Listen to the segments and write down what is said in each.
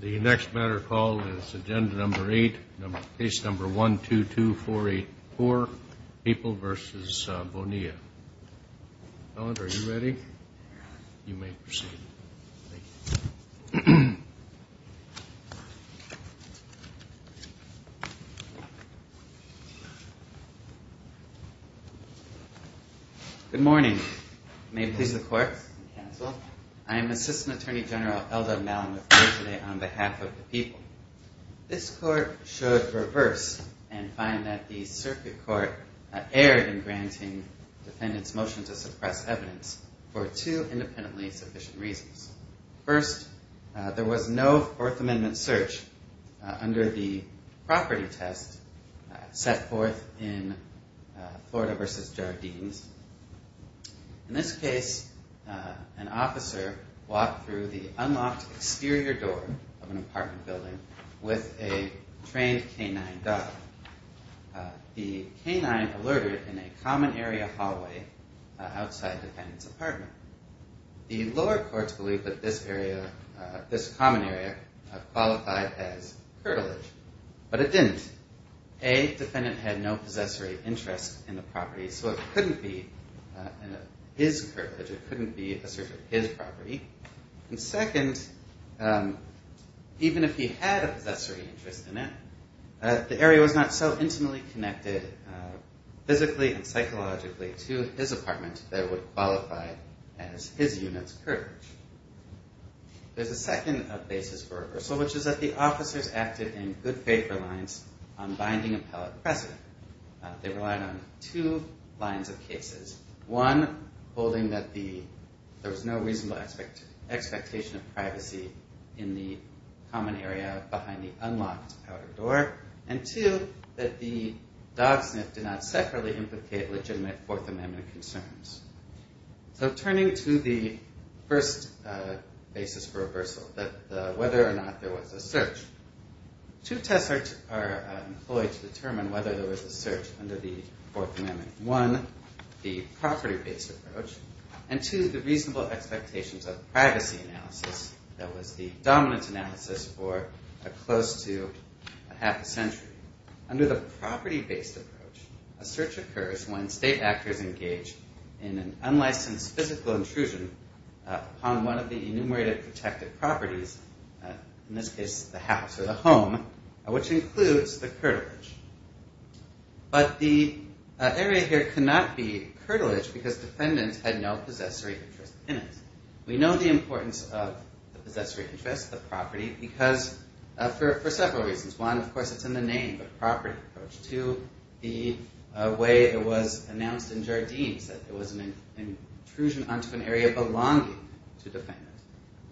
The next matter called is agenda number 8, case number 122484, Papal v. Bonilla. Ellen, are you ready? You may proceed. Good morning. May it please the court. I am Assistant Attorney General L.W. Malinow on behalf of the people. This court should reverse and find that the circuit court erred in granting defendants' motion to suppress evidence for two independently sufficient reasons. First, there was no Fourth Amendment search under the property test set forth in Florida v. Jardines. In this case, an officer walked through the unlocked exterior door of an apartment building with a trained K-9 dog. The K-9 alerted in a common area hallway outside the defendant's apartment. The lower courts believed that this common area qualified as curtilage, but it didn't. A, defendant had no possessory interest in the property, so it couldn't be his curtilage. It couldn't be a search of his property. And second, even if he had a possessory interest in it, the area was not so intimately connected physically and psychologically to his apartment that it would qualify as his unit's curtilage. There's a second basis for reversal, which is that the officers acted in good faith reliance on binding appellate precedent. They relied on two lines of cases. One, holding that there was no reasonable expectation of privacy in the common area behind the unlocked outer door, and two, that the dog sniff did not separately implicate legitimate Fourth Amendment concerns. So turning to the first basis for reversal, whether or not there was a search, two tests are employed to determine whether there was a search under the Fourth Amendment. One, the property-based approach, and two, the reasonable expectations of privacy analysis that was the dominant analysis for close to half a century. Under the property-based approach, a search occurs when state actors engage in an unlicensed physical intrusion upon one of the enumerated protected properties, in this case the house or the home, which includes the curtilage. But the area here cannot be curtilage because defendants had no possessory interest in it. We know the importance of the possessory interest, the property, for several reasons. One, of course, it's in the name, the property approach. Two, the way it was announced in Jardines that there was an intrusion onto an area belonging to defendants.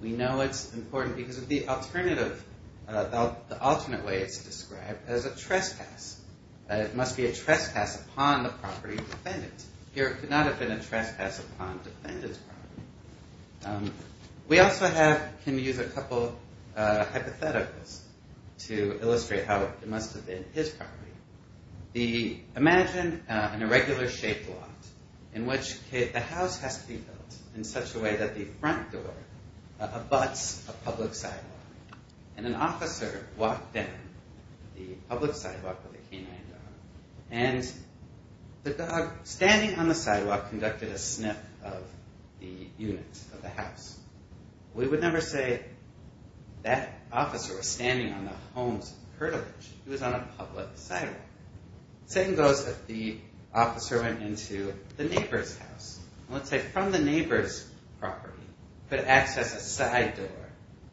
We know it's important because of the alternative, the alternate way it's described as a trespass, that it must be a trespass upon the property of defendants. Here it could not have been a trespass upon defendants' property. We also have, can use a couple of hypotheticals to describe an irregular shaped lot in which the house has to be built in such a way that the front door abuts a public sidewalk. An officer walked down the public sidewalk with a canine dog, and the dog, standing on the sidewalk, conducted a sniff of the unit, of the house. We would never say that officer was standing on the home's curtilage. He was on a public sidewalk. The same goes if the officer went into the neighbor's house. Let's say from the neighbor's property, could access a side door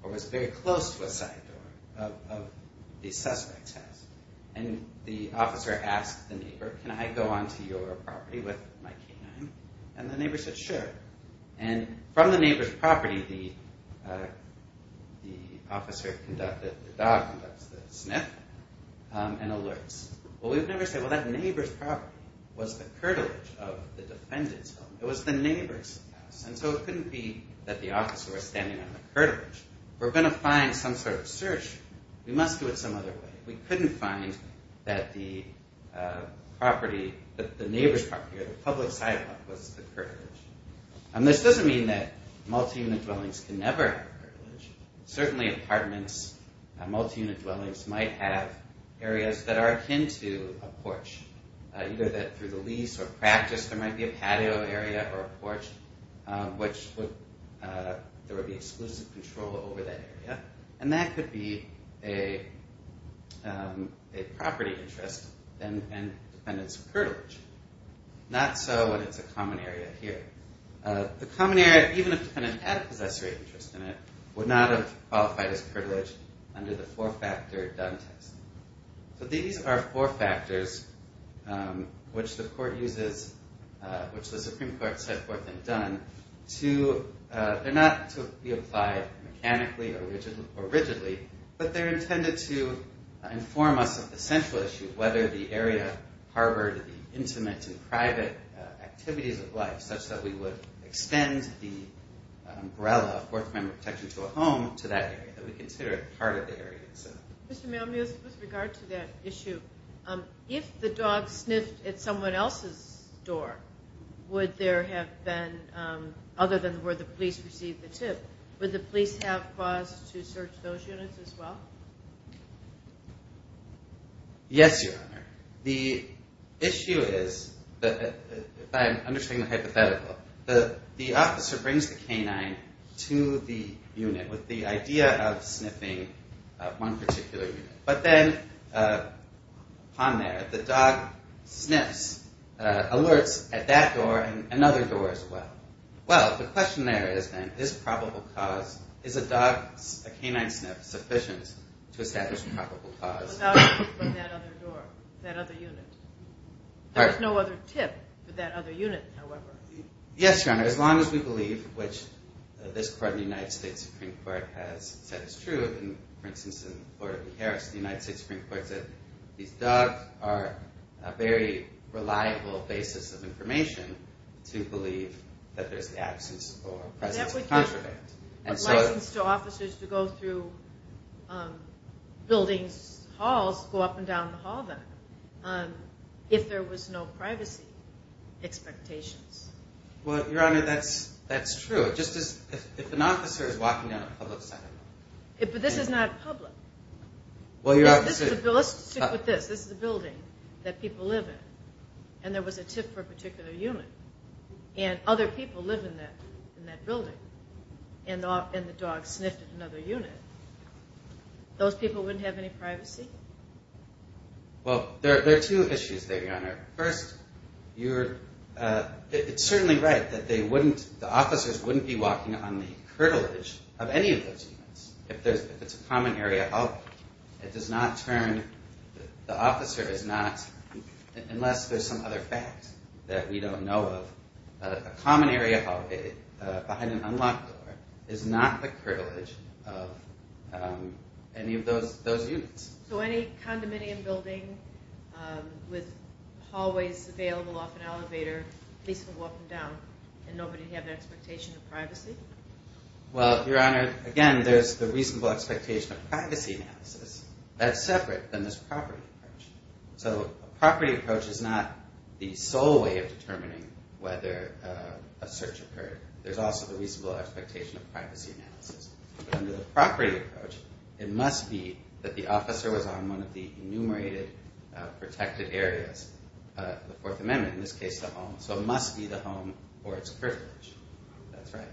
or was very close to a side door of the suspect's house. The officer asked the neighbor, can I go onto your property with my canine? The neighbor said, sure. From the neighbor's property, the officer conducted the sniff and alerts. We would never say, well, that neighbor's property was the curtilage of the defendant's home. It was the neighbor's house. So it couldn't be that the officer was standing on the curtilage. We're going to find some sort of search. We must do it some other way. We couldn't find that the property, the neighbor's property or the public sidewalk was the curtilage. This doesn't mean that multi-unit dwellings can never have a curtilage. Multi-unit dwellings might have areas that are akin to a porch. Either through the lease or practice, there might be a patio area or a porch, which there would be exclusive control over that area. And that could be a property interest and the defendant's curtilage. Not so when it's a common area here. The common area, even if the defendant had a possessory interest in it, would not have qualified as curtilage under the four-factor Dunn test. So these are four factors which the court uses, which the Supreme Court set forth in Dunn. They're not to be applied mechanically or rigidly, but they're intended to inform us of the central issue, whether the area harbored the intimate and private activities of life such that we would extend the umbrella of fourth member protection to a home to that area that we consider a part of the area itself. Mr. Malmuth, with regard to that issue, if the dog sniffed at someone else's door, would there have been, other than where the police received the tip, would the police have cause to search those units as well? Yes, Your Honor. The issue is, I'm undertaking a hypothetical. The officer brings the canine to the unit with the idea of sniffing one particular unit. But then upon there, the dog sniffs, alerts at that door and another door as well. Well, the question there is then, is probable cause, is a dog, a canine sniff sufficient to establish probable cause? The dog sniffed from that other door, that other unit. There was no other tip for that other unit, however. Yes, Your Honor. As long as we believe, which this court, the United States Supreme Court has said is true, and for instance in the court of the Harris, the United States Supreme Court said these dogs are a very reliable basis of information to believe that there's a privacy absence or presence of contraband. But that would give a license to officers to go through buildings, halls, go up and down the hall then, if there was no privacy expectations. Well, Your Honor, that's true. If an officer is walking down a public sidewalk. But this is not public. Let's stick with this. This is a building that people live in, and there was a tip for a particular unit. And other people live in that building, and the dog sniffed at another unit. Those people wouldn't have any privacy? Well, there are two issues there, Your Honor. First, it's certainly right that the officers wouldn't be walking on the curtilage of any of those units. If it's a common area, it does not turn, the officer is not, unless there's some other fact that we don't know of, a common area hallway behind an unlocked door is not the curtilage of any of those units. So any condominium building with hallways available off an elevator, at least for walking down, and nobody would have an expectation of privacy? Well, Your Honor, again, there's the reasonable expectation of privacy analysis. That's separate from this property approach. So a property approach is not the sole way of determining whether a search occurred. There's also the reasonable expectation of privacy analysis. Under the property approach, it must be that the officer was on one of the enumerated protected areas, the Fourth Amendment, in this case the home. So it must be the home or its curtilage. That's right.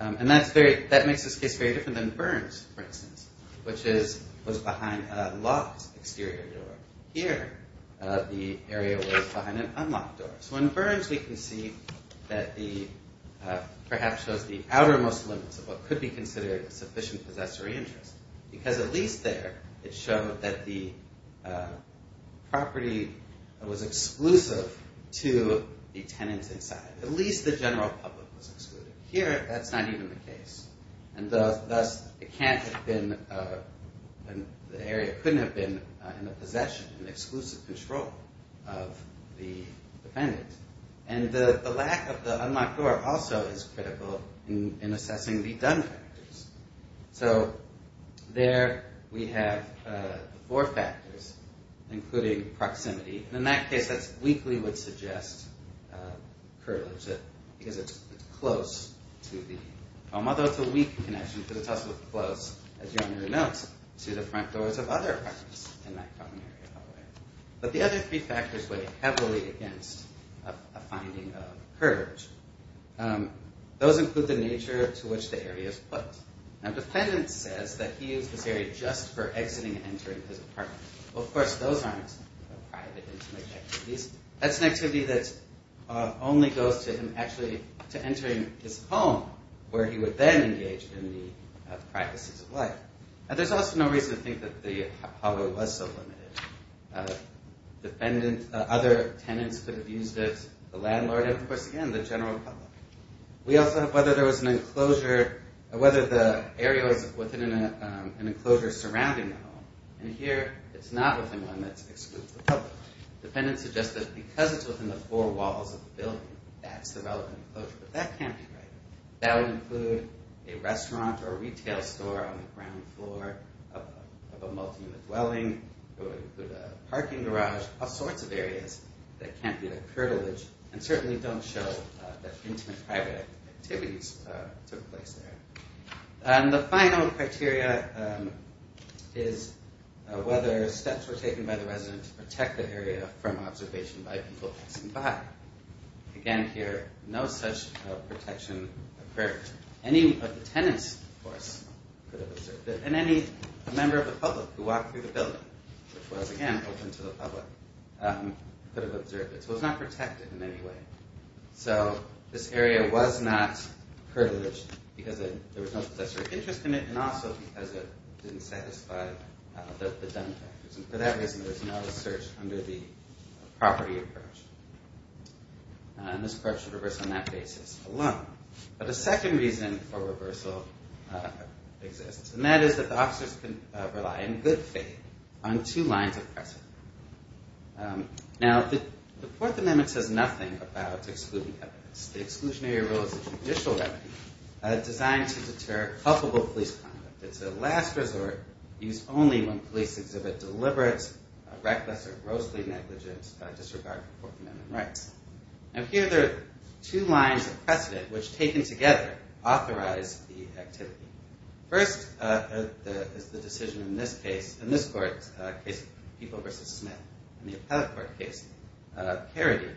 And that makes this case very different than Burns, for instance, which was behind a locked exterior door. Here, the area was behind an unlocked door. So in Burns, we can see that the, perhaps shows the outermost limits of what could be considered sufficient possessory interest. Because at least there, it showed that the tenant's inside. At least the general public was excluded. Here, that's not even the case. And thus, it can't have been, the area couldn't have been in the possession, in exclusive control of the defendant. And the lack of the unlocked door also is critical in assessing the done factors. So there we have the four factors, including proximity. And in that case, that weakly would suggest curtilage, because it's close to the home, although it's a weak connection because it's also close, as you already know, to the front doors of other apartments in that common area. But the other three factors weigh heavily against a finding of curtilage. Those include the nature to which the area is put. Now, the defendant says that he used this area just for exiting and entering his apartment. Well, of course, those aren't private, intimate activities. That's an activity that only goes to him actually to entering his home, where he would then engage in the practices of life. And there's also no reason to think that the hallway was so limited. Defendant, other tenants could have used it, the landlord, and of course, again, the general public. We also have whether there was an enclosure, whether the area was within an enclosure surrounding the home. And here, it's not within one that's exclusive to the public. Defendant suggests that because it's within the four walls of the building, that's the relevant enclosure. But that can't be right. That would include a restaurant or retail store on the ground floor of a multi-unit dwelling. It would include a parking garage, all sorts of areas that can't be the curtilage, and certainly don't show that intimate private activities took place there. And the final criteria is whether steps were taken by the resident to protect the area from observation by people passing by. Again, here, no such protection occurred. Any of the tenants, of course, could have observed it. And any member of the public who walked through the building, which was, again, open to the public, could have observed it. So it was not protected in any way. So this area was not curtilaged because there was no possessive interest in it, and also because it didn't satisfy the benefactors. And for that reason, there's no search under the property approach. And this approach should reverse on that basis alone. But a second reason for reversal exists, and that is that the officers can rely, in good faith, on two lines of precedent. Now, the Fourth Amendment says nothing about excluding evidence. The exclusionary rule is a judicial remedy designed to deter culpable police conduct. It's a last resort used only when police exhibit deliberate, reckless, or grossly negligent disregard for Fourth Amendment rights. And here, there are two lines of precedent which, taken together, authorize the activity. First is the decision in this case, in this court's case, People v. Smith, in the Appellate Court case of Carradine,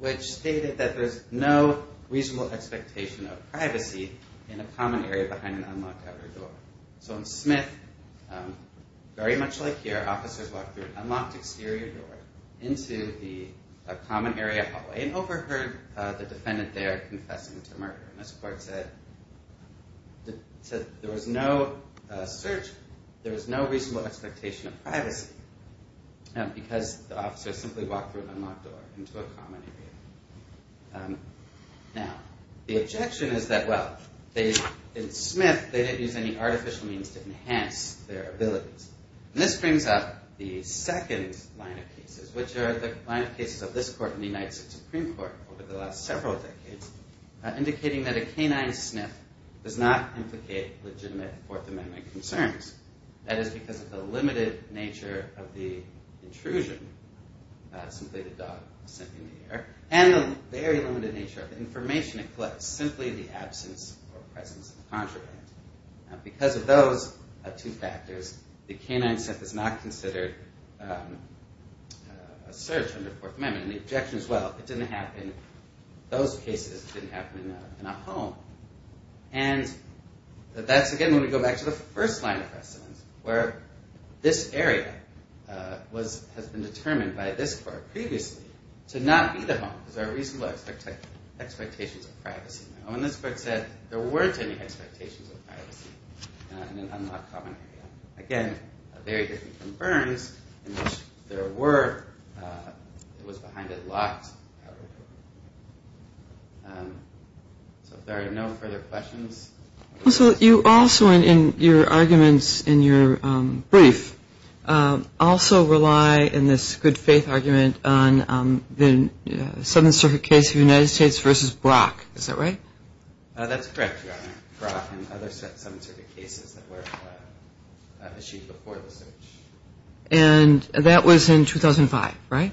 which stated that there's no reasonable expectation of privacy in a common area behind an unlocked outer door. So in Smith, very much like here, officers walked through an unlocked exterior door into a common area hallway and overheard the defendant there confessing to murder. And this court said there was no search. There was no reasonable expectation of privacy because the officers simply walked through an unlocked door into a common area. Now, the objection is that, well, in Smith, they didn't use any artificial means to enhance their abilities. And this brings up the second line of cases, which are the line of cases of this court and the United States Supreme Court over the last several decades, indicating that a canine sniff does not implicate legitimate Fourth Amendment concerns. That is because of the limited nature of the intrusion, simply the dog was sniffing the air, and the very limited nature of the information it collects, simply the absence or presence of the contraband. Because of those two factors, the canine sniff is not considered a search under Fourth Amendment. And the objection is, well, it didn't happen in those cases. It didn't happen in a home. And that's, again, when we go back to the first line of precedence, where this area has been determined by this court previously to not be the home because there are reasonable expectations of privacy. Now, when this court said there weren't any expectations of privacy in an unlocked common area, again, very different from Burns in which there were. It was behind a locked common area. So if there are no further questions. So you also, in your arguments in your brief, also rely in this good faith argument on the Seventh Circuit case of the United States versus Brock. Is that right? That's correct, Your Honor. Brock and other Seventh Circuit cases that were achieved before the search. And that was in 2005, right?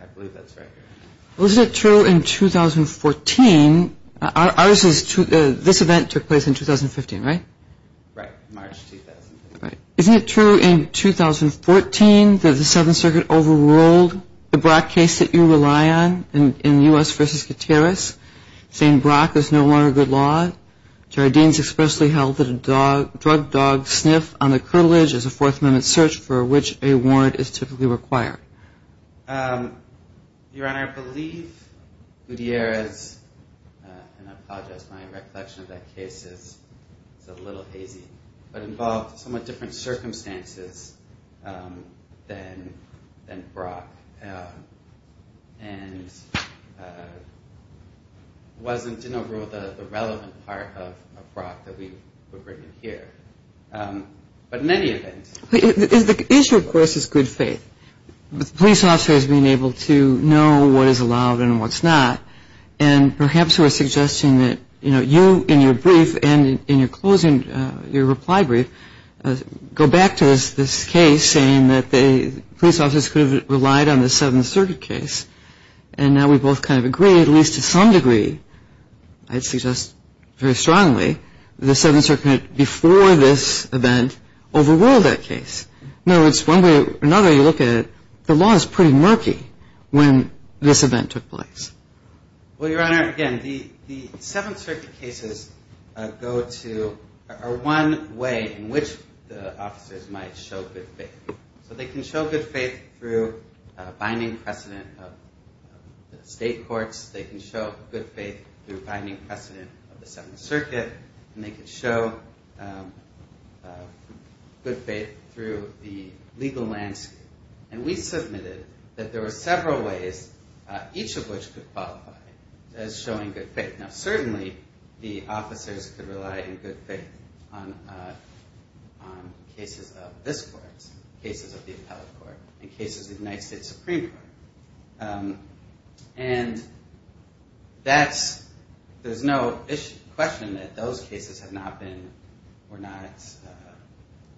I believe that's right, Your Honor. Well, isn't it true in 2014, this event took place in 2015, right? Right, March 2015. Isn't it true in 2014 that the Seventh Circuit overruled the Brock case that you rely on in U.S. versus Gutierrez, saying Brock is no longer good law? Jared Dean's expressly held that a drug dog sniff on the curtilage is a Fourth Amendment search for which a warrant is typically required. Your Honor, I believe Gutierrez, and I apologize, my recollection of that case is a little hazy, but involved somewhat different circumstances than Brock. And wasn't, in a rule, the relevant part of Brock that we would bring in here. But in any event. The issue, of course, is good faith. Police officers being able to know what is allowed and what's not. And perhaps we're suggesting that, you know, you in your brief and in your closing, your reply brief, go back to this case saying that police officers could have relied on the Seventh Circuit case. And now we both kind of agree, at least to some degree, I'd suggest very strongly, the Seventh Circuit before this event overruled that case. In other words, one way or another, you look at it, the law is pretty murky when this event took place. Well, Your Honor, again, the Seventh Circuit cases go to, are one way in which the officers might show good faith. So they can show good faith through binding precedent of the state courts. They can show good faith through binding precedent of the Seventh Circuit. And they can show good faith through the legal landscape. And we submitted that there were several ways, each of which could qualify as showing good faith. Now, certainly the officers could rely in good faith on cases of this court, cases of the appellate court, and cases of the United States Supreme Court. And that's, there's no question that those cases have not been, were not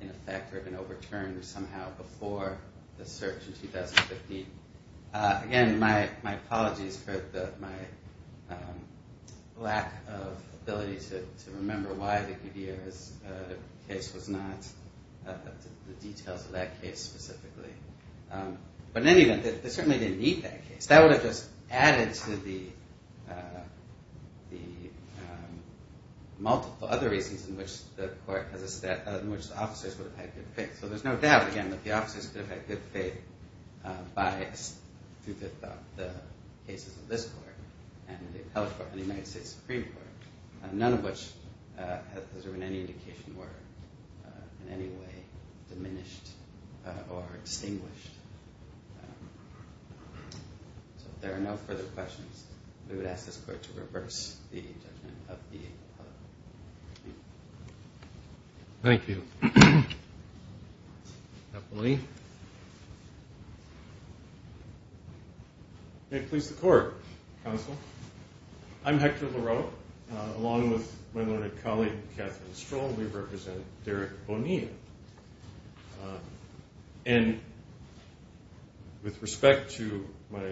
in effect or have been overturned somehow before the search in 2015. Again, my apologies for my lack of ability to remember why the Gutierrez case was not, the details of that case specifically. But in any event, they certainly didn't need that case. That would have just added to the multiple other reasons in which the court, in which the officers would have had good faith. So there's no doubt, again, that the officers could have had good faith by, through the cases of this court and the appellate court and the United States Supreme Court, none of which has there been any indication were in any way diminished or extinguished. So if there are no further questions, we would ask this court to reverse the judgment of the appellate court. Thank you. Appellee. May it please the court, counsel. I'm Hector Leroux. Along with my learned colleague, Catherine Stroll, we represent Derek Bonilla. And with respect to my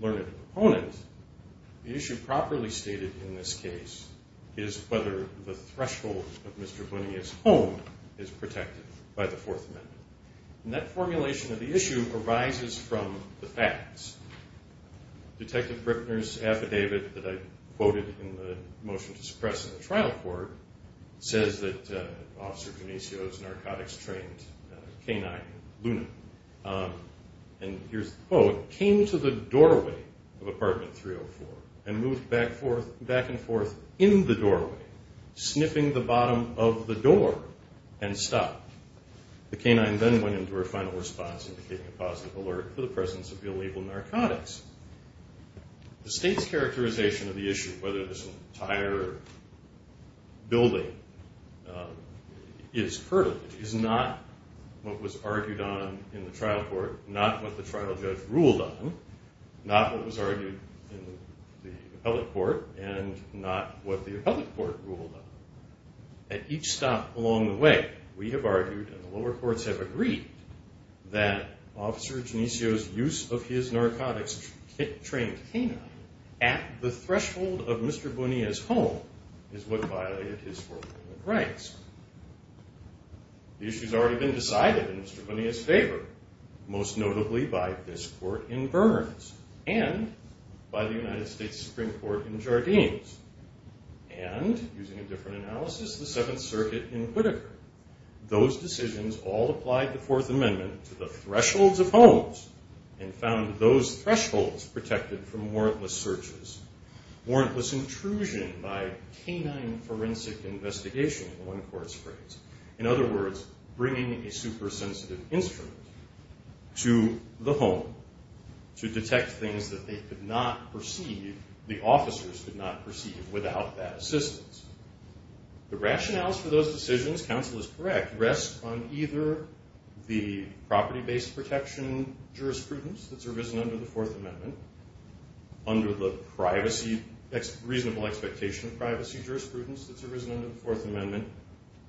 learned opponent, the issue properly stated in this case is whether the threshold of Mr. Bonilla's home is protected by the Fourth Amendment. And that formulation of the issue arises from the facts. Detective Bripner's affidavit that I quoted in the motion to suppress in the trial court says that Officer Genicio's narcotics-trained canine, Luna, and here's the quote, came to the doorway of apartment 304 and moved back and forth in the doorway, sniffing the bottom of the door and stopped. The canine then went into her final response, indicating a positive alert for the presence of illegal narcotics. The state's characterization of the issue, whether this entire building is curtailed, is not what was argued on in the trial court, not what the trial judge ruled on, not what was argued in the appellate court, and not what the appellate court ruled on. At each stop along the way, we have argued and the lower courts have agreed that Officer Genicio's use of his narcotics-trained canine at the threshold of Mr. Bonilla's home is what violated his Fourth Amendment rights. The issue has already been decided in Mr. Bonilla's favor, most notably by this court in Burns and by the United States Supreme Court in Jardines. And, using a different analysis, the Seventh Circuit in Whitaker. Those decisions all applied the Fourth Amendment to the thresholds of homes and found those thresholds protected from warrantless searches, warrantless intrusion by canine forensic investigation, in one court's phrase. In other words, bringing a super-sensitive instrument to the home to detect things that they could not perceive, the officers could not perceive, without that assistance. The rationales for those decisions, counsel is correct, rest on either the property-based protection jurisprudence that's arisen under the Fourth Amendment, under the reasonable expectation of privacy jurisprudence that's arisen under the Fourth Amendment,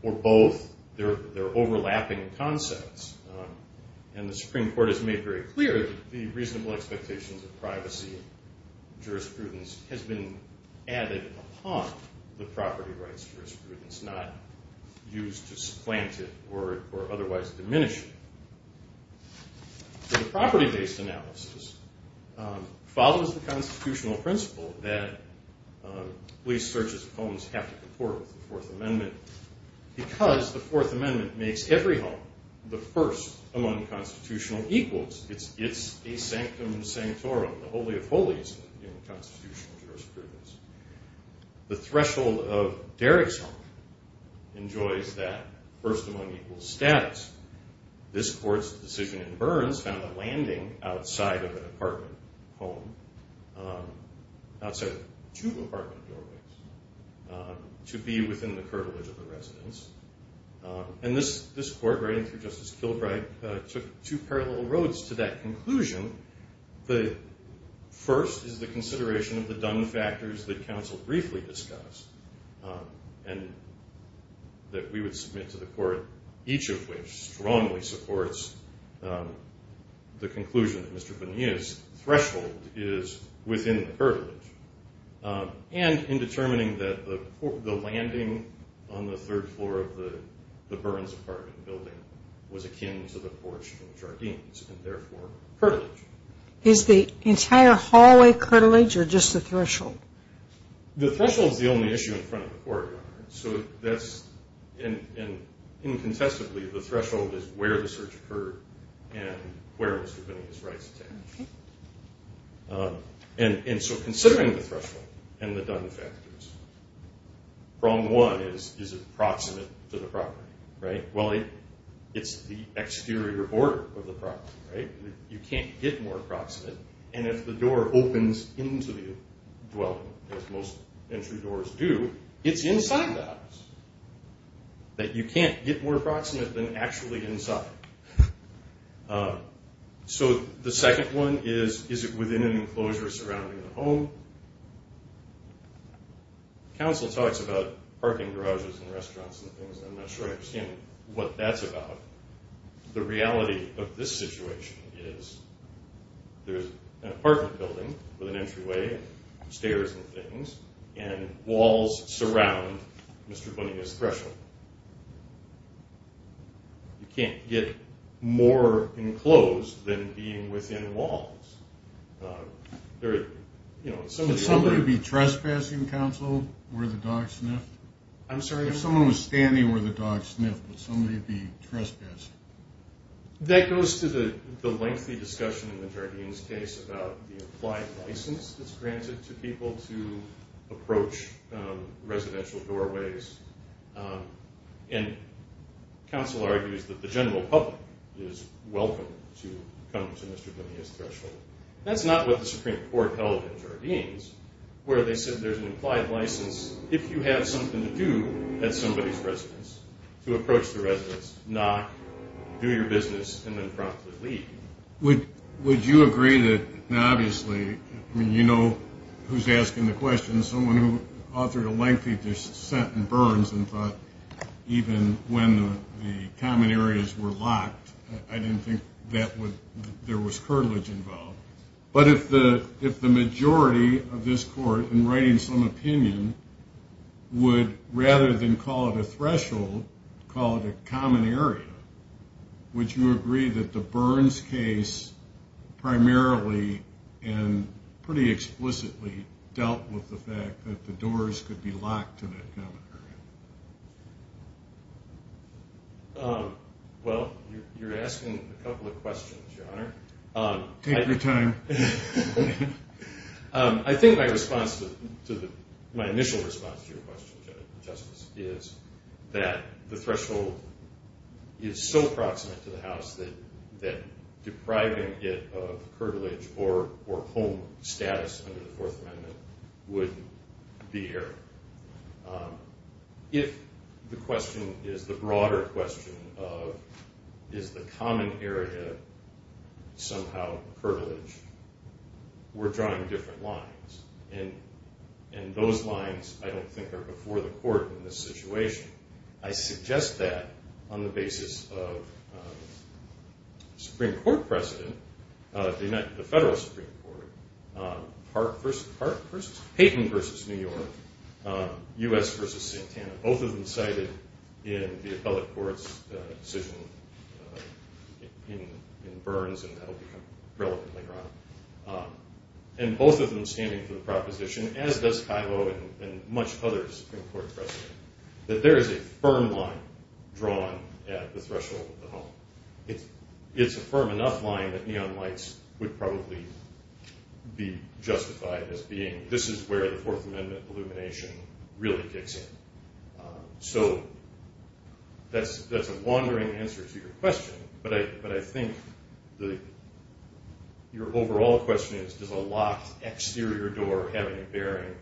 or both. They're overlapping concepts. And the Supreme Court has made very clear that the reasonable expectations of privacy jurisprudence has been added upon the property rights jurisprudence, not used to supplant it or otherwise diminish it. The property-based analysis follows the constitutional principle that police searches of homes have to comport with the Fourth Amendment because the Fourth Amendment makes every home the first among constitutional equals. It's a sanctum sanctorum, the holy of holies in constitutional jurisprudence. The threshold of Derrick's home enjoys that first among equals status. This court's decision in Burns found a landing outside of an apartment home, outside of two apartment doorways, to be within the curtilage of the residence. And this court, writing through Justice Kilbride, took two parallel roads to that conclusion. The first is the consideration of the done factors that counsel briefly discussed and that we would submit to the court, each of which strongly supports the conclusion that Mr. Bonilla's threshold is within the curtilage. And in determining that the landing on the third floor of the Burns apartment building was akin to the porch in Jardines, and therefore, curtilage. Is the entire hallway curtilage or just the threshold? The threshold's the only issue in front of the court, Your Honor. And incontestably, the threshold is where the search occurred and where Mr. Bonilla's rights attach. And so considering the threshold and the done factors, problem one is, is it proximate to the property? Well, it's the exterior border of the property. You can't get more approximate. And if the door opens into the dwelling, as most entry doors do, it's inside the house. That you can't get more approximate than actually inside. So the second one is, is it within an enclosure surrounding the home? Counsel talks about parking garages and restaurants and things, and I'm not sure I understand what that's about. But the reality of this situation is there's an apartment building with an entryway, stairs and things, and walls surround Mr. Bonilla's threshold. You can't get more enclosed than being within walls. Would somebody be trespassing, counsel, where the dog sniffed? I'm sorry? If someone was standing where the dog sniffed, would somebody be trespassing? That goes to the lengthy discussion in the Jardines case about the applied license that's granted to people to approach residential doorways. And counsel argues that the general public is welcome to come to Mr. Bonilla's threshold. That's not what the Supreme Court held in Jardines, where they said there's an implied license if you have something to do at somebody's residence to approach the residence, knock, do your business, and then promptly leave. Would you agree that, obviously, you know who's asking the question, someone who authored a lengthy dissent in Burns and thought even when the common areas were locked, I didn't think there was curtilage involved. But if the majority of this court, in writing some opinion, would rather than call it a threshold, call it a common area, would you agree that the Burns case primarily and pretty explicitly dealt with the fact that the doors could be locked to that common area? Well, you're asking a couple of questions, Your Honor. Take your time. I think my initial response to your question, Justice, is that the threshold is so proximate to the House that depriving it of curtilage or home status under the Fourth Amendment would be error. If the question is the broader question of is the common area somehow curtilage, we're drawing different lines. And those lines, I don't think, are before the court in this situation. I suggest that on the basis of Supreme Court precedent. They met at the federal Supreme Court. Paton versus New York. U.S. versus Santana. Both of them cited in the appellate court's decision in Burns, and that will become relevant later on. And both of them standing for the proposition, as does Kilo and much others in court precedent, that there is a firm line drawn at the threshold of the home. It's a firm enough line that neon lights would probably be justified as being, this is where the Fourth Amendment illumination really kicks in. So that's a wandering answer to your question, but I think your overall question is, does a locked exterior door have any bearing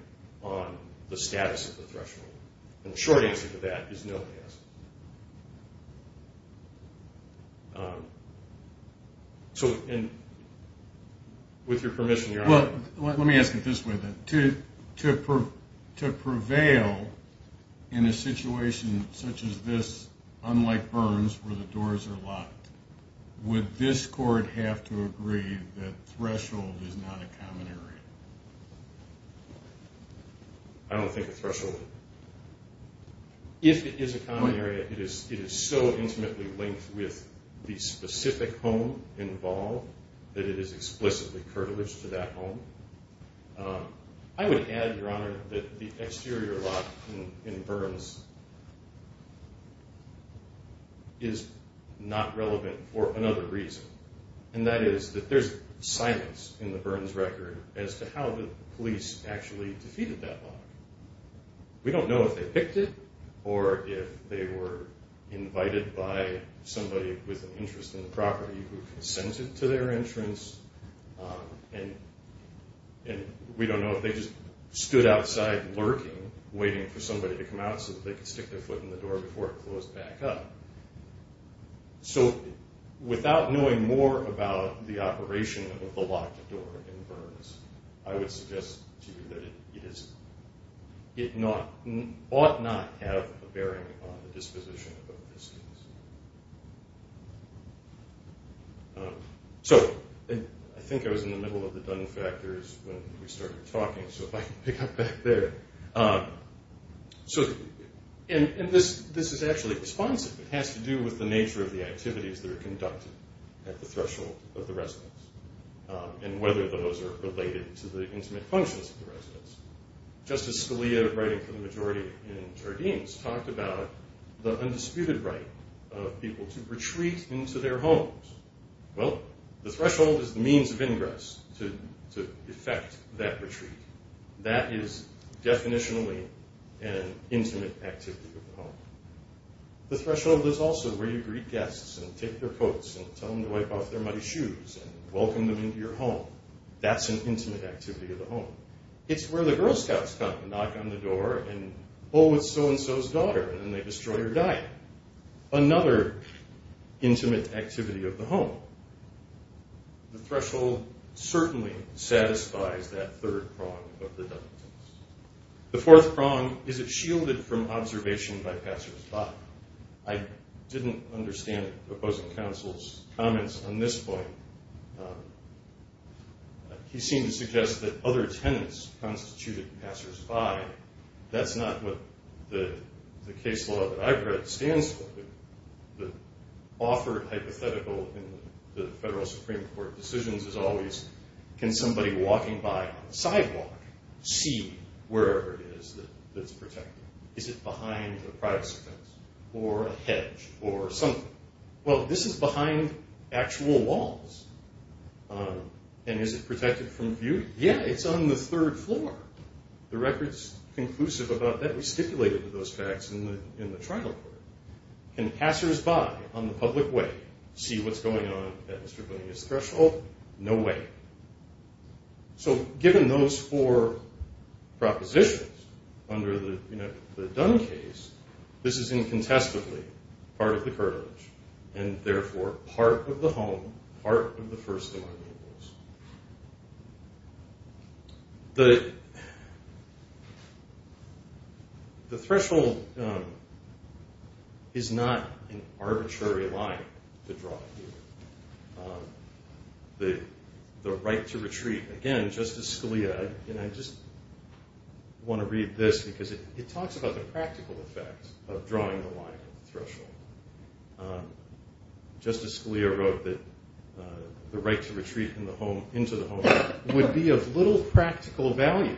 on the status of the threshold? And the short answer to that is no, it doesn't. So with your permission, Your Honor. Let me ask it this way then. To prevail in a situation such as this, unlike Burns, where the doors are locked, would this court have to agree that threshold is not a common area? I don't think a threshold. If it is a common area, it is so intimately linked with the specific home involved that it is explicitly privileged to that home. I would add, Your Honor, that the exterior lock in Burns is not relevant for another reason. And that is that there's silence in the Burns record as to how the police actually defeated that lock. We don't know if they picked it or if they were invited by somebody with an interest in the property who consented to their entrance. And we don't know if they just stood outside lurking, waiting for somebody to come out so that they could stick their foot in the door before it closed back up. So without knowing more about the operation of the locked door in Burns, I would suggest to you that it ought not have a bearing on the disposition of the participants. So I think I was in the middle of the done factors when we started talking, so if I can pick up back there. And this is actually responsive. It has to do with the nature of the activities that are conducted at the threshold of the residence and whether those are related to the intimate functions of the residence. Justice Scalia, writing for the majority in Jardines, talked about the undisputed right of people to retreat into their homes. Well, the threshold is the means of ingress to effect that retreat. That is definitionally an intimate activity of the home. The threshold is also where you greet guests and take their coats and tell them to wipe off their muddy shoes and welcome them into your home. That's an intimate activity of the home. It's where the Girl Scouts come and knock on the door and, oh, it's so-and-so's daughter, and they destroy her diet. Another intimate activity of the home. The threshold certainly satisfies that third prong of the done things. The fourth prong is it's shielded from observation by passersby. Now, I didn't understand the opposing counsel's comments on this point. He seemed to suggest that other tenants constituted passersby. That's not what the case law that I've read stands for. The offered hypothetical in the federal Supreme Court decisions is always, can somebody walking by on the sidewalk see wherever it is that's protected? Is it behind a privacy fence or a hedge or something? Well, this is behind actual walls. And is it protected from view? Yeah, it's on the third floor. The record's conclusive about that. We stipulated those facts in the trial court. Can passersby on the public way see what's going on at Mr. Bonilla's threshold? No way. So given those four propositions under the done case, this is incontestably part of the curtilage, and therefore part of the home, part of the first of our new rules. The threshold is not an arbitrary line to draw here. The right to retreat, again, Justice Scalia, and I just want to read this because it talks about the practical effect of drawing the line at the threshold. Justice Scalia wrote that the right to retreat into the home would be of little practical value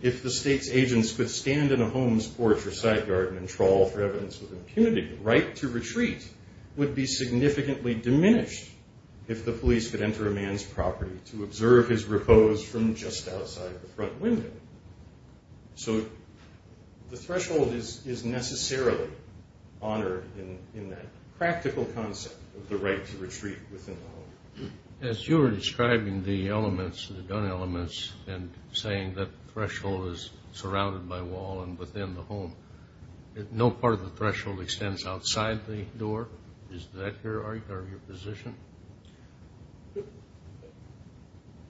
if the state's agents could stand in a home's porch or side garden and trawl for evidence of impunity. The right to retreat would be significantly diminished if the police could enter a man's property to observe his repose from just outside the front window. So the threshold is necessarily honored in that practical concept of the right to retreat within the home. As you were describing the elements, the gun elements, and saying that threshold is surrounded by wall and within the home, no part of the threshold extends outside the door, is that your position?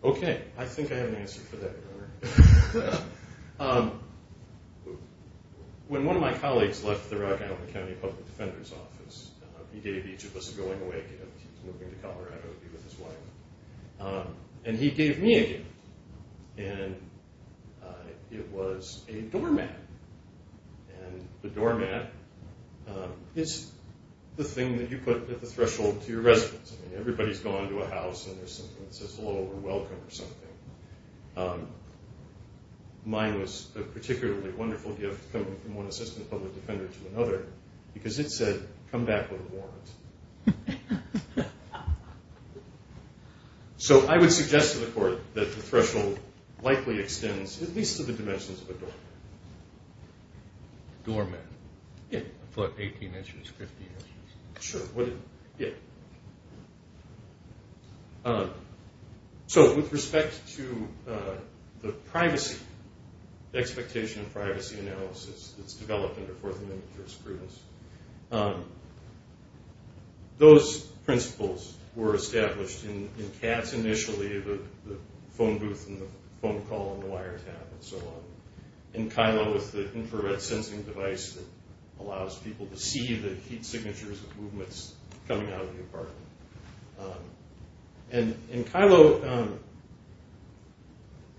Okay, I think I have an answer for that, Your Honor. When one of my colleagues left the Rock Island County Public Defender's Office, he gave each of us a going away gift. He's moving to Colorado to be with his wife. And he gave me a gift, and it was a doormat. And the doormat is the thing that you put at the threshold to your residence. I mean, everybody's gone to a house, and there's something that says hello or welcome or something. Mine was a particularly wonderful gift coming from one assistant public defender to another because it said, come back with a warrant. So I would suggest to the Court that the threshold likely extends at least to the dimensions of a doormat. A doormat? Yeah. A foot, 18 inches, 50 inches. Sure. So with respect to the privacy, the expectation of privacy analysis that's developed under Fourth Amendment jurisprudence, those principles were established in CATS initially, the phone booth and the phone call and the wire tap and so on. And Kylo with the infrared sensing device that allows people to see the heat signatures of movements coming out of the apartment. And Kylo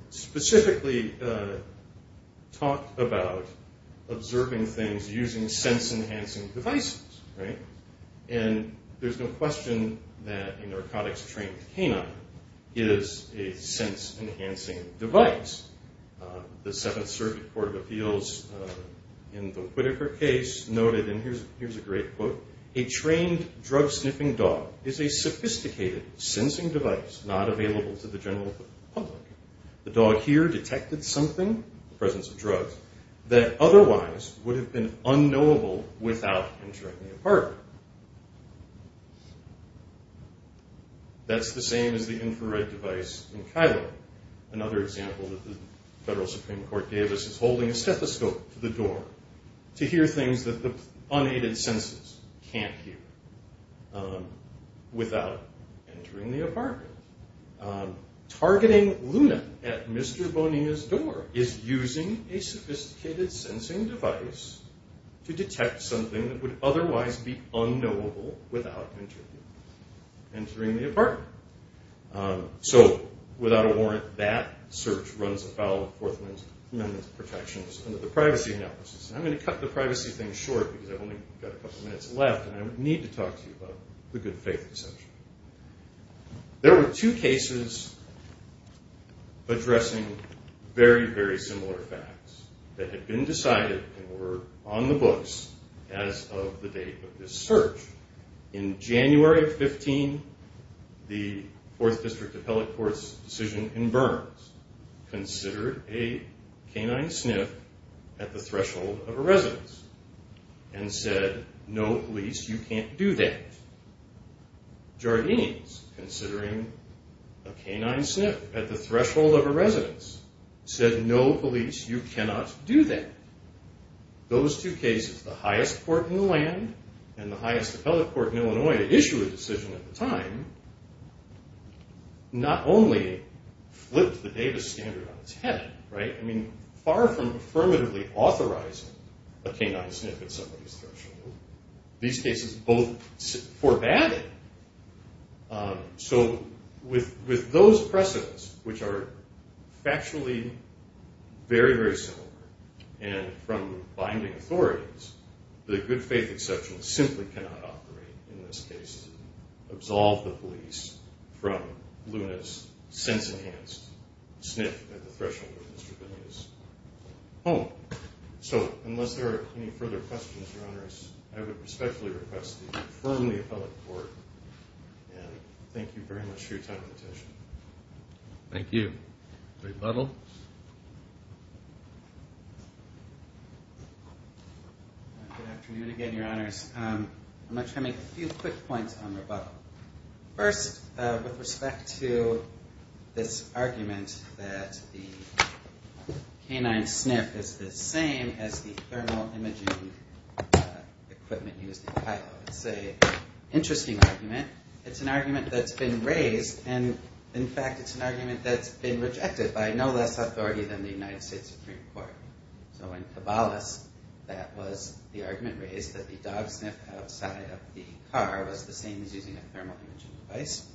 specifically talked about observing things using sense-enhancing devices, right? And there's no question that a narcotics-trained canine is a sense-enhancing device. The Seventh Circuit Court of Appeals in the Whitaker case noted, and here's a great quote, a trained drug-sniffing dog is a sophisticated sensing device not available to the general public. The dog here detected something, the presence of drugs, that otherwise would have been unknowable without entering the apartment. That's the same as the infrared device in Kylo. Another example that the federal Supreme Court gave us is holding a stethoscope to the door to hear things that the unaided senses can't hear without entering the apartment. Targeting Luna at Mr. Bonilla's door is using a sophisticated sensing device to detect something that would otherwise be unknowable without entering the apartment. So, without a warrant, that search runs afoul of Fourth Amendment protections under the privacy analysis. And I'm going to cut the privacy thing short because I've only got a couple minutes left and I need to talk to you about the good faith assumption. There were two cases addressing very, very similar facts that had been decided and were on the books as of the date of this search. In January of 15, the Fourth District Appellate Court's decision in Burns considered a canine sniff at the threshold of a residence and said, no, police, you can't do that. Jardines, considering a canine sniff at the threshold of a residence, said, no, police, you cannot do that. Those two cases, the highest court in the land and the highest appellate court in Illinois to issue a decision at the time, not only flipped the Davis standard on its head, I mean, far from affirmatively authorizing a canine sniff at somebody's threshold, these cases both forbade it. So, with those precedents, which are factually very, very similar, and from binding authorities, the good faith assumption simply cannot operate in this case to absolve the police from Luna's sense-enhanced sniff at the threshold of Mr. Bonilla's home. So, unless there are any further questions, Your Honors, I would respectfully request that you confirm the appellate court and thank you very much for your time and attention. Thank you. Rebuttal. Good afternoon again, Your Honors. I'm going to try to make a few quick points on rebuttal. First, with respect to this argument that the canine sniff is the same as the thermal imaging equipment used in pilot, it's an interesting argument. It's an argument that's been raised, and in fact, it's an argument that's been rejected by no less authority than the United States Supreme Court. So, in Cabalas, that was the argument raised that the dog sniff outside of the car was the same as using a thermal imaging device,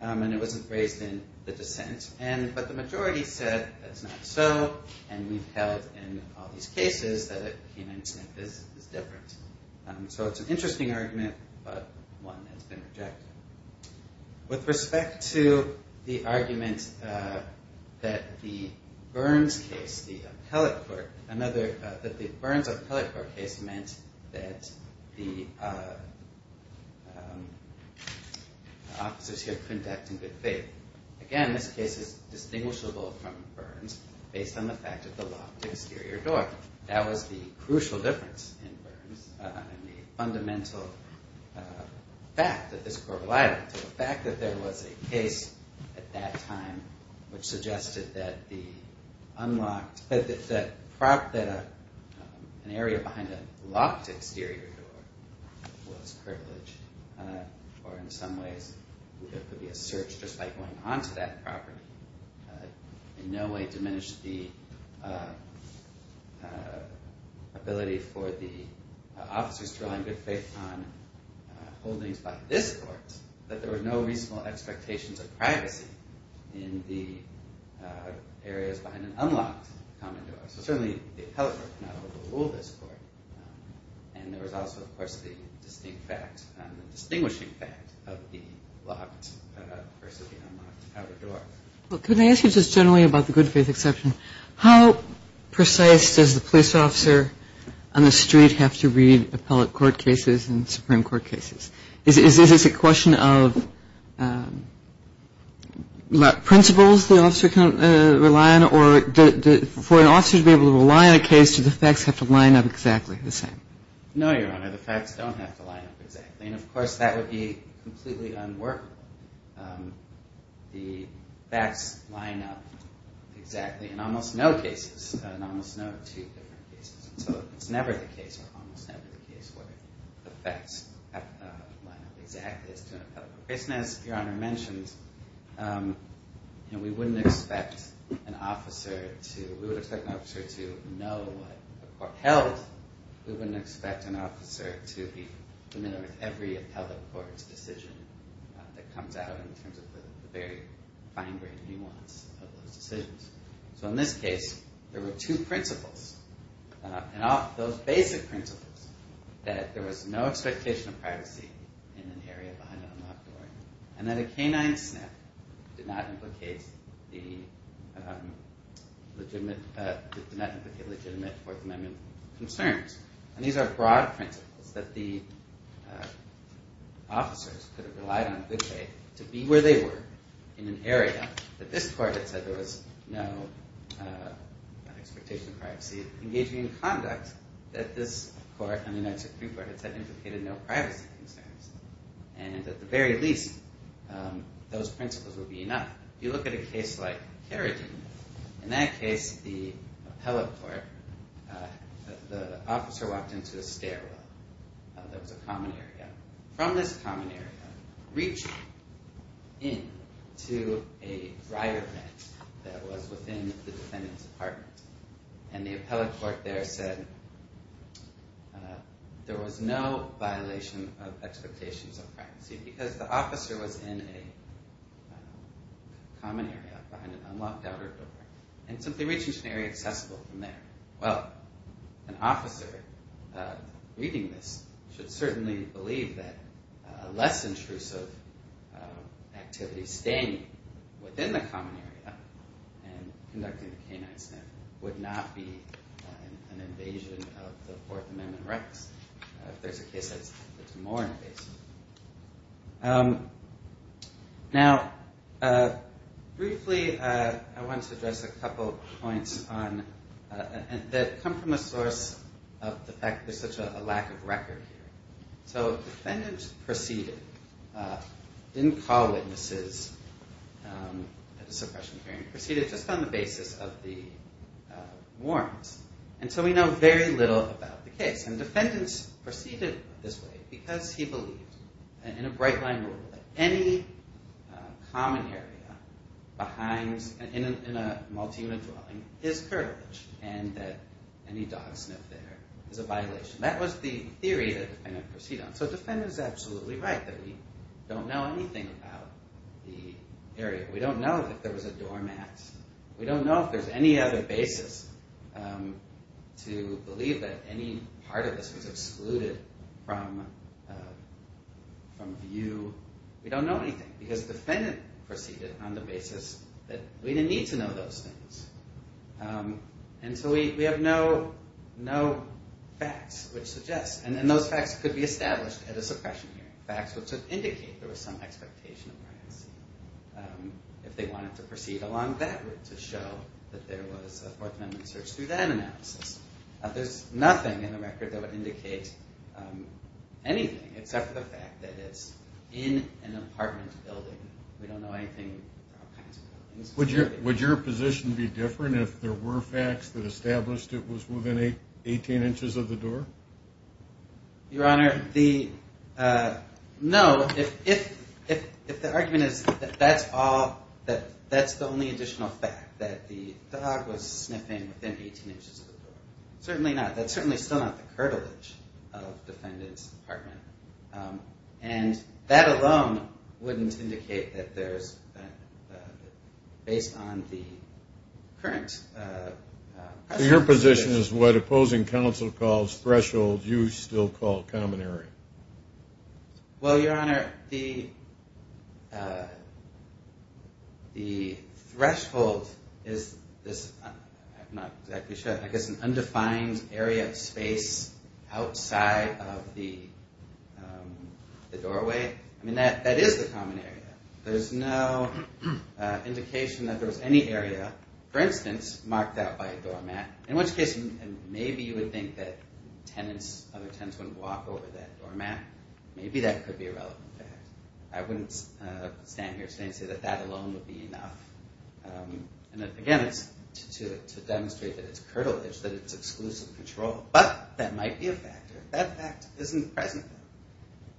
and it wasn't raised in the dissent, but the majority said that's not so, and we've held in all these cases that a canine sniff is different. So it's an interesting argument, but one that's been rejected. With respect to the argument that the Burns case, the appellate court, that the Burns appellate court case meant that the officers here couldn't act in good faith. Again, this case is distinguishable from Burns based on the fact of the locked exterior door. That was the crucial difference in Burns, and the fundamental fact that this court relied on. The fact that there was a case at that time which suggested that an area behind a locked exterior door was privileged, or in some ways, there could be a search just by going onto that property, in no way diminished the ability for the officers to rely in good faith on holdings by this court, that there were no reasonable expectations of privacy in the areas behind an unlocked common door. So certainly the appellate court could not overrule this court, and there was also, of course, the distinct fact, the distinguishing fact, of the locked versus the unlocked outer door. Can I ask you just generally about the good faith exception? How precise does the police officer on the street have to read appellate court cases and Supreme Court cases? Is this a question of principles the officer can rely on, or for an officer to be able to rely on a case, do the facts have to line up exactly the same? No, Your Honor, the facts don't have to line up exactly, and, of course, that would be completely unworkable. The facts line up exactly in almost no cases, in almost no two different cases. So it's never the case, or almost never the case, where the facts line up exactly as to an appellate court case. And as Your Honor mentioned, we wouldn't expect an officer to know what a court held. We wouldn't expect an officer to be familiar with every appellate court's decision that comes out in terms of the very fine-grained nuance of those decisions. So in this case, there were two principles, and those basic principles, that there was no expectation of privacy in an area behind an unlocked door, and that a canine snap did not implicate legitimate Fourth Amendment concerns. And these are broad principles that the officers could have relied on a good way to be where they were in an area that this court had said there was no expectation of privacy, engaging in conduct that this court, and the United States Supreme Court, had said implicated no privacy concerns. And at the very least, those principles would be enough. If you look at a case like Kerrigan, in that case, the appellate court, the officer walked into a stairwell. That was a common area. From this common area, reach in to a dryer vent that was within the defendant's apartment. And the appellate court there said there was no violation of expectations of privacy because the officer was in a common area behind an unlocked outer door, and simply reaching an area accessible from there. Well, an officer reading this should certainly believe that less intrusive activities staying within the common area and conducting the canine snap would not be an invasion of the Fourth Amendment rights. If there's a case that's more invasive. Now, briefly, I want to address a couple points that come from a source of the fact there's such a lack of record here. So defendants proceeded, didn't call witnesses at a suppression hearing, proceeded just on the basis of the warrants. And so we know very little about the case. And defendants proceeded this way because he believed, in a bright-line rule, that any common area behind, in a multi-unit dwelling, is curtilage, and that any dog sniff there is a violation. That was the theory that defendants proceeded on. So defendants are absolutely right that we don't know anything about the area. We don't know that there was a doormat. We don't know if there's any other basis to believe that any part of this was excluded from view. We don't know anything, because defendants proceeded on the basis that we didn't need to know those things. And so we have no facts which suggest, and those facts could be established at a suppression hearing, facts which would indicate there was some expectation of privacy if they wanted to proceed along that route to show that there was a Fourth Amendment search through that analysis. There's nothing in the record that would indicate anything except for the fact that it's in an apartment building. We don't know anything about kinds of buildings. Would your position be different if there were facts that established it was within 18 inches of the door? Your Honor, no. If the argument is that that's all, that that's the only additional fact, that the dog was sniffing within 18 inches of the door, certainly not. That's certainly still not the curtilage of the defendant's apartment. And that alone wouldn't indicate that there's, based on the current... So your position is what opposing counsel calls threshold, you still call common area. Well, Your Honor, the threshold is this, I'm not exactly sure, I guess an undefined area of space outside of the doorway. I mean, that is the common area. There's no indication that there was any area, for instance, marked out by a doormat, in which case maybe you would think that other tenants wouldn't walk over that doormat. Maybe that could be a relevant fact. I wouldn't stand here today and say that that alone would be enough. And again, to demonstrate that it's curtilage, that it's exclusive control, but that might be a factor. That fact isn't present.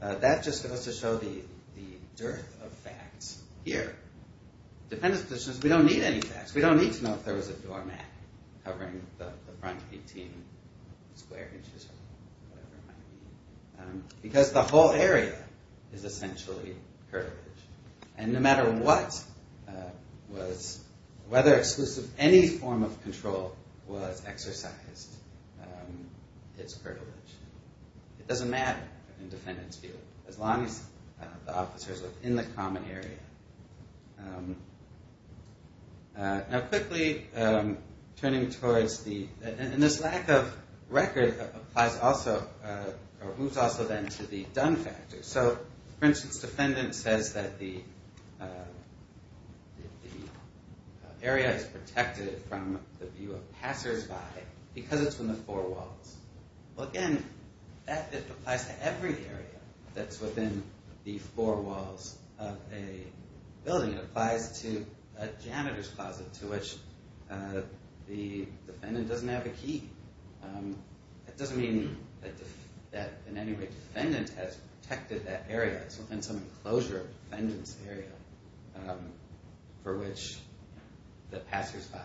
That just goes to show the dearth of facts here. Defendant's position is we don't need any facts. We don't need to know if there was a doormat covering the front 18 square inches or whatever it might be. Because the whole area is essentially curtilage. And no matter what was, whether exclusive any form of control was exercised, it's curtilage. It doesn't matter in defendant's view, as long as the officers are in the common area. Now quickly, turning towards the, and this lack of record applies also, moves also then to the done factor. So for instance, defendant says that the area is protected from the view of passersby because it's from the four walls. Well again, that applies to every area that's within the four walls of a building. It applies to a janitor's closet, to which the defendant doesn't have a key. That doesn't mean that in any way defendant has protected that area. It's within some enclosure of defendant's area for which the passersby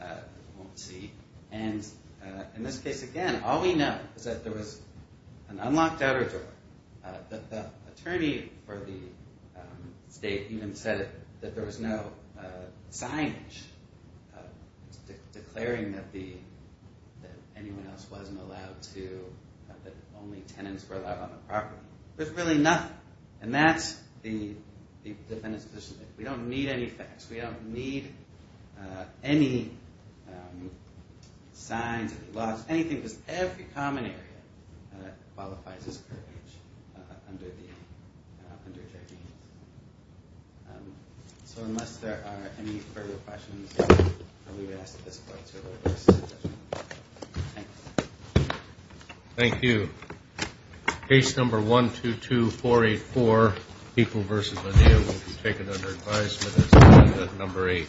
won't see. And in this case again, all we know is that there was an unlocked outer door. The attorney for the state even said that there was no signage declaring that anyone else wasn't allowed to, that only tenants were allowed on the property. There's really nothing. And that's the defendant's position. We don't need any facts. We don't need any signs, any laws, anything, because every common area qualifies as curtilage under JV. So unless there are any further questions, I'll leave it at this point. Thank you. Thank you. Case number 122484, People v. Medea, will be taken under advisement as number eight.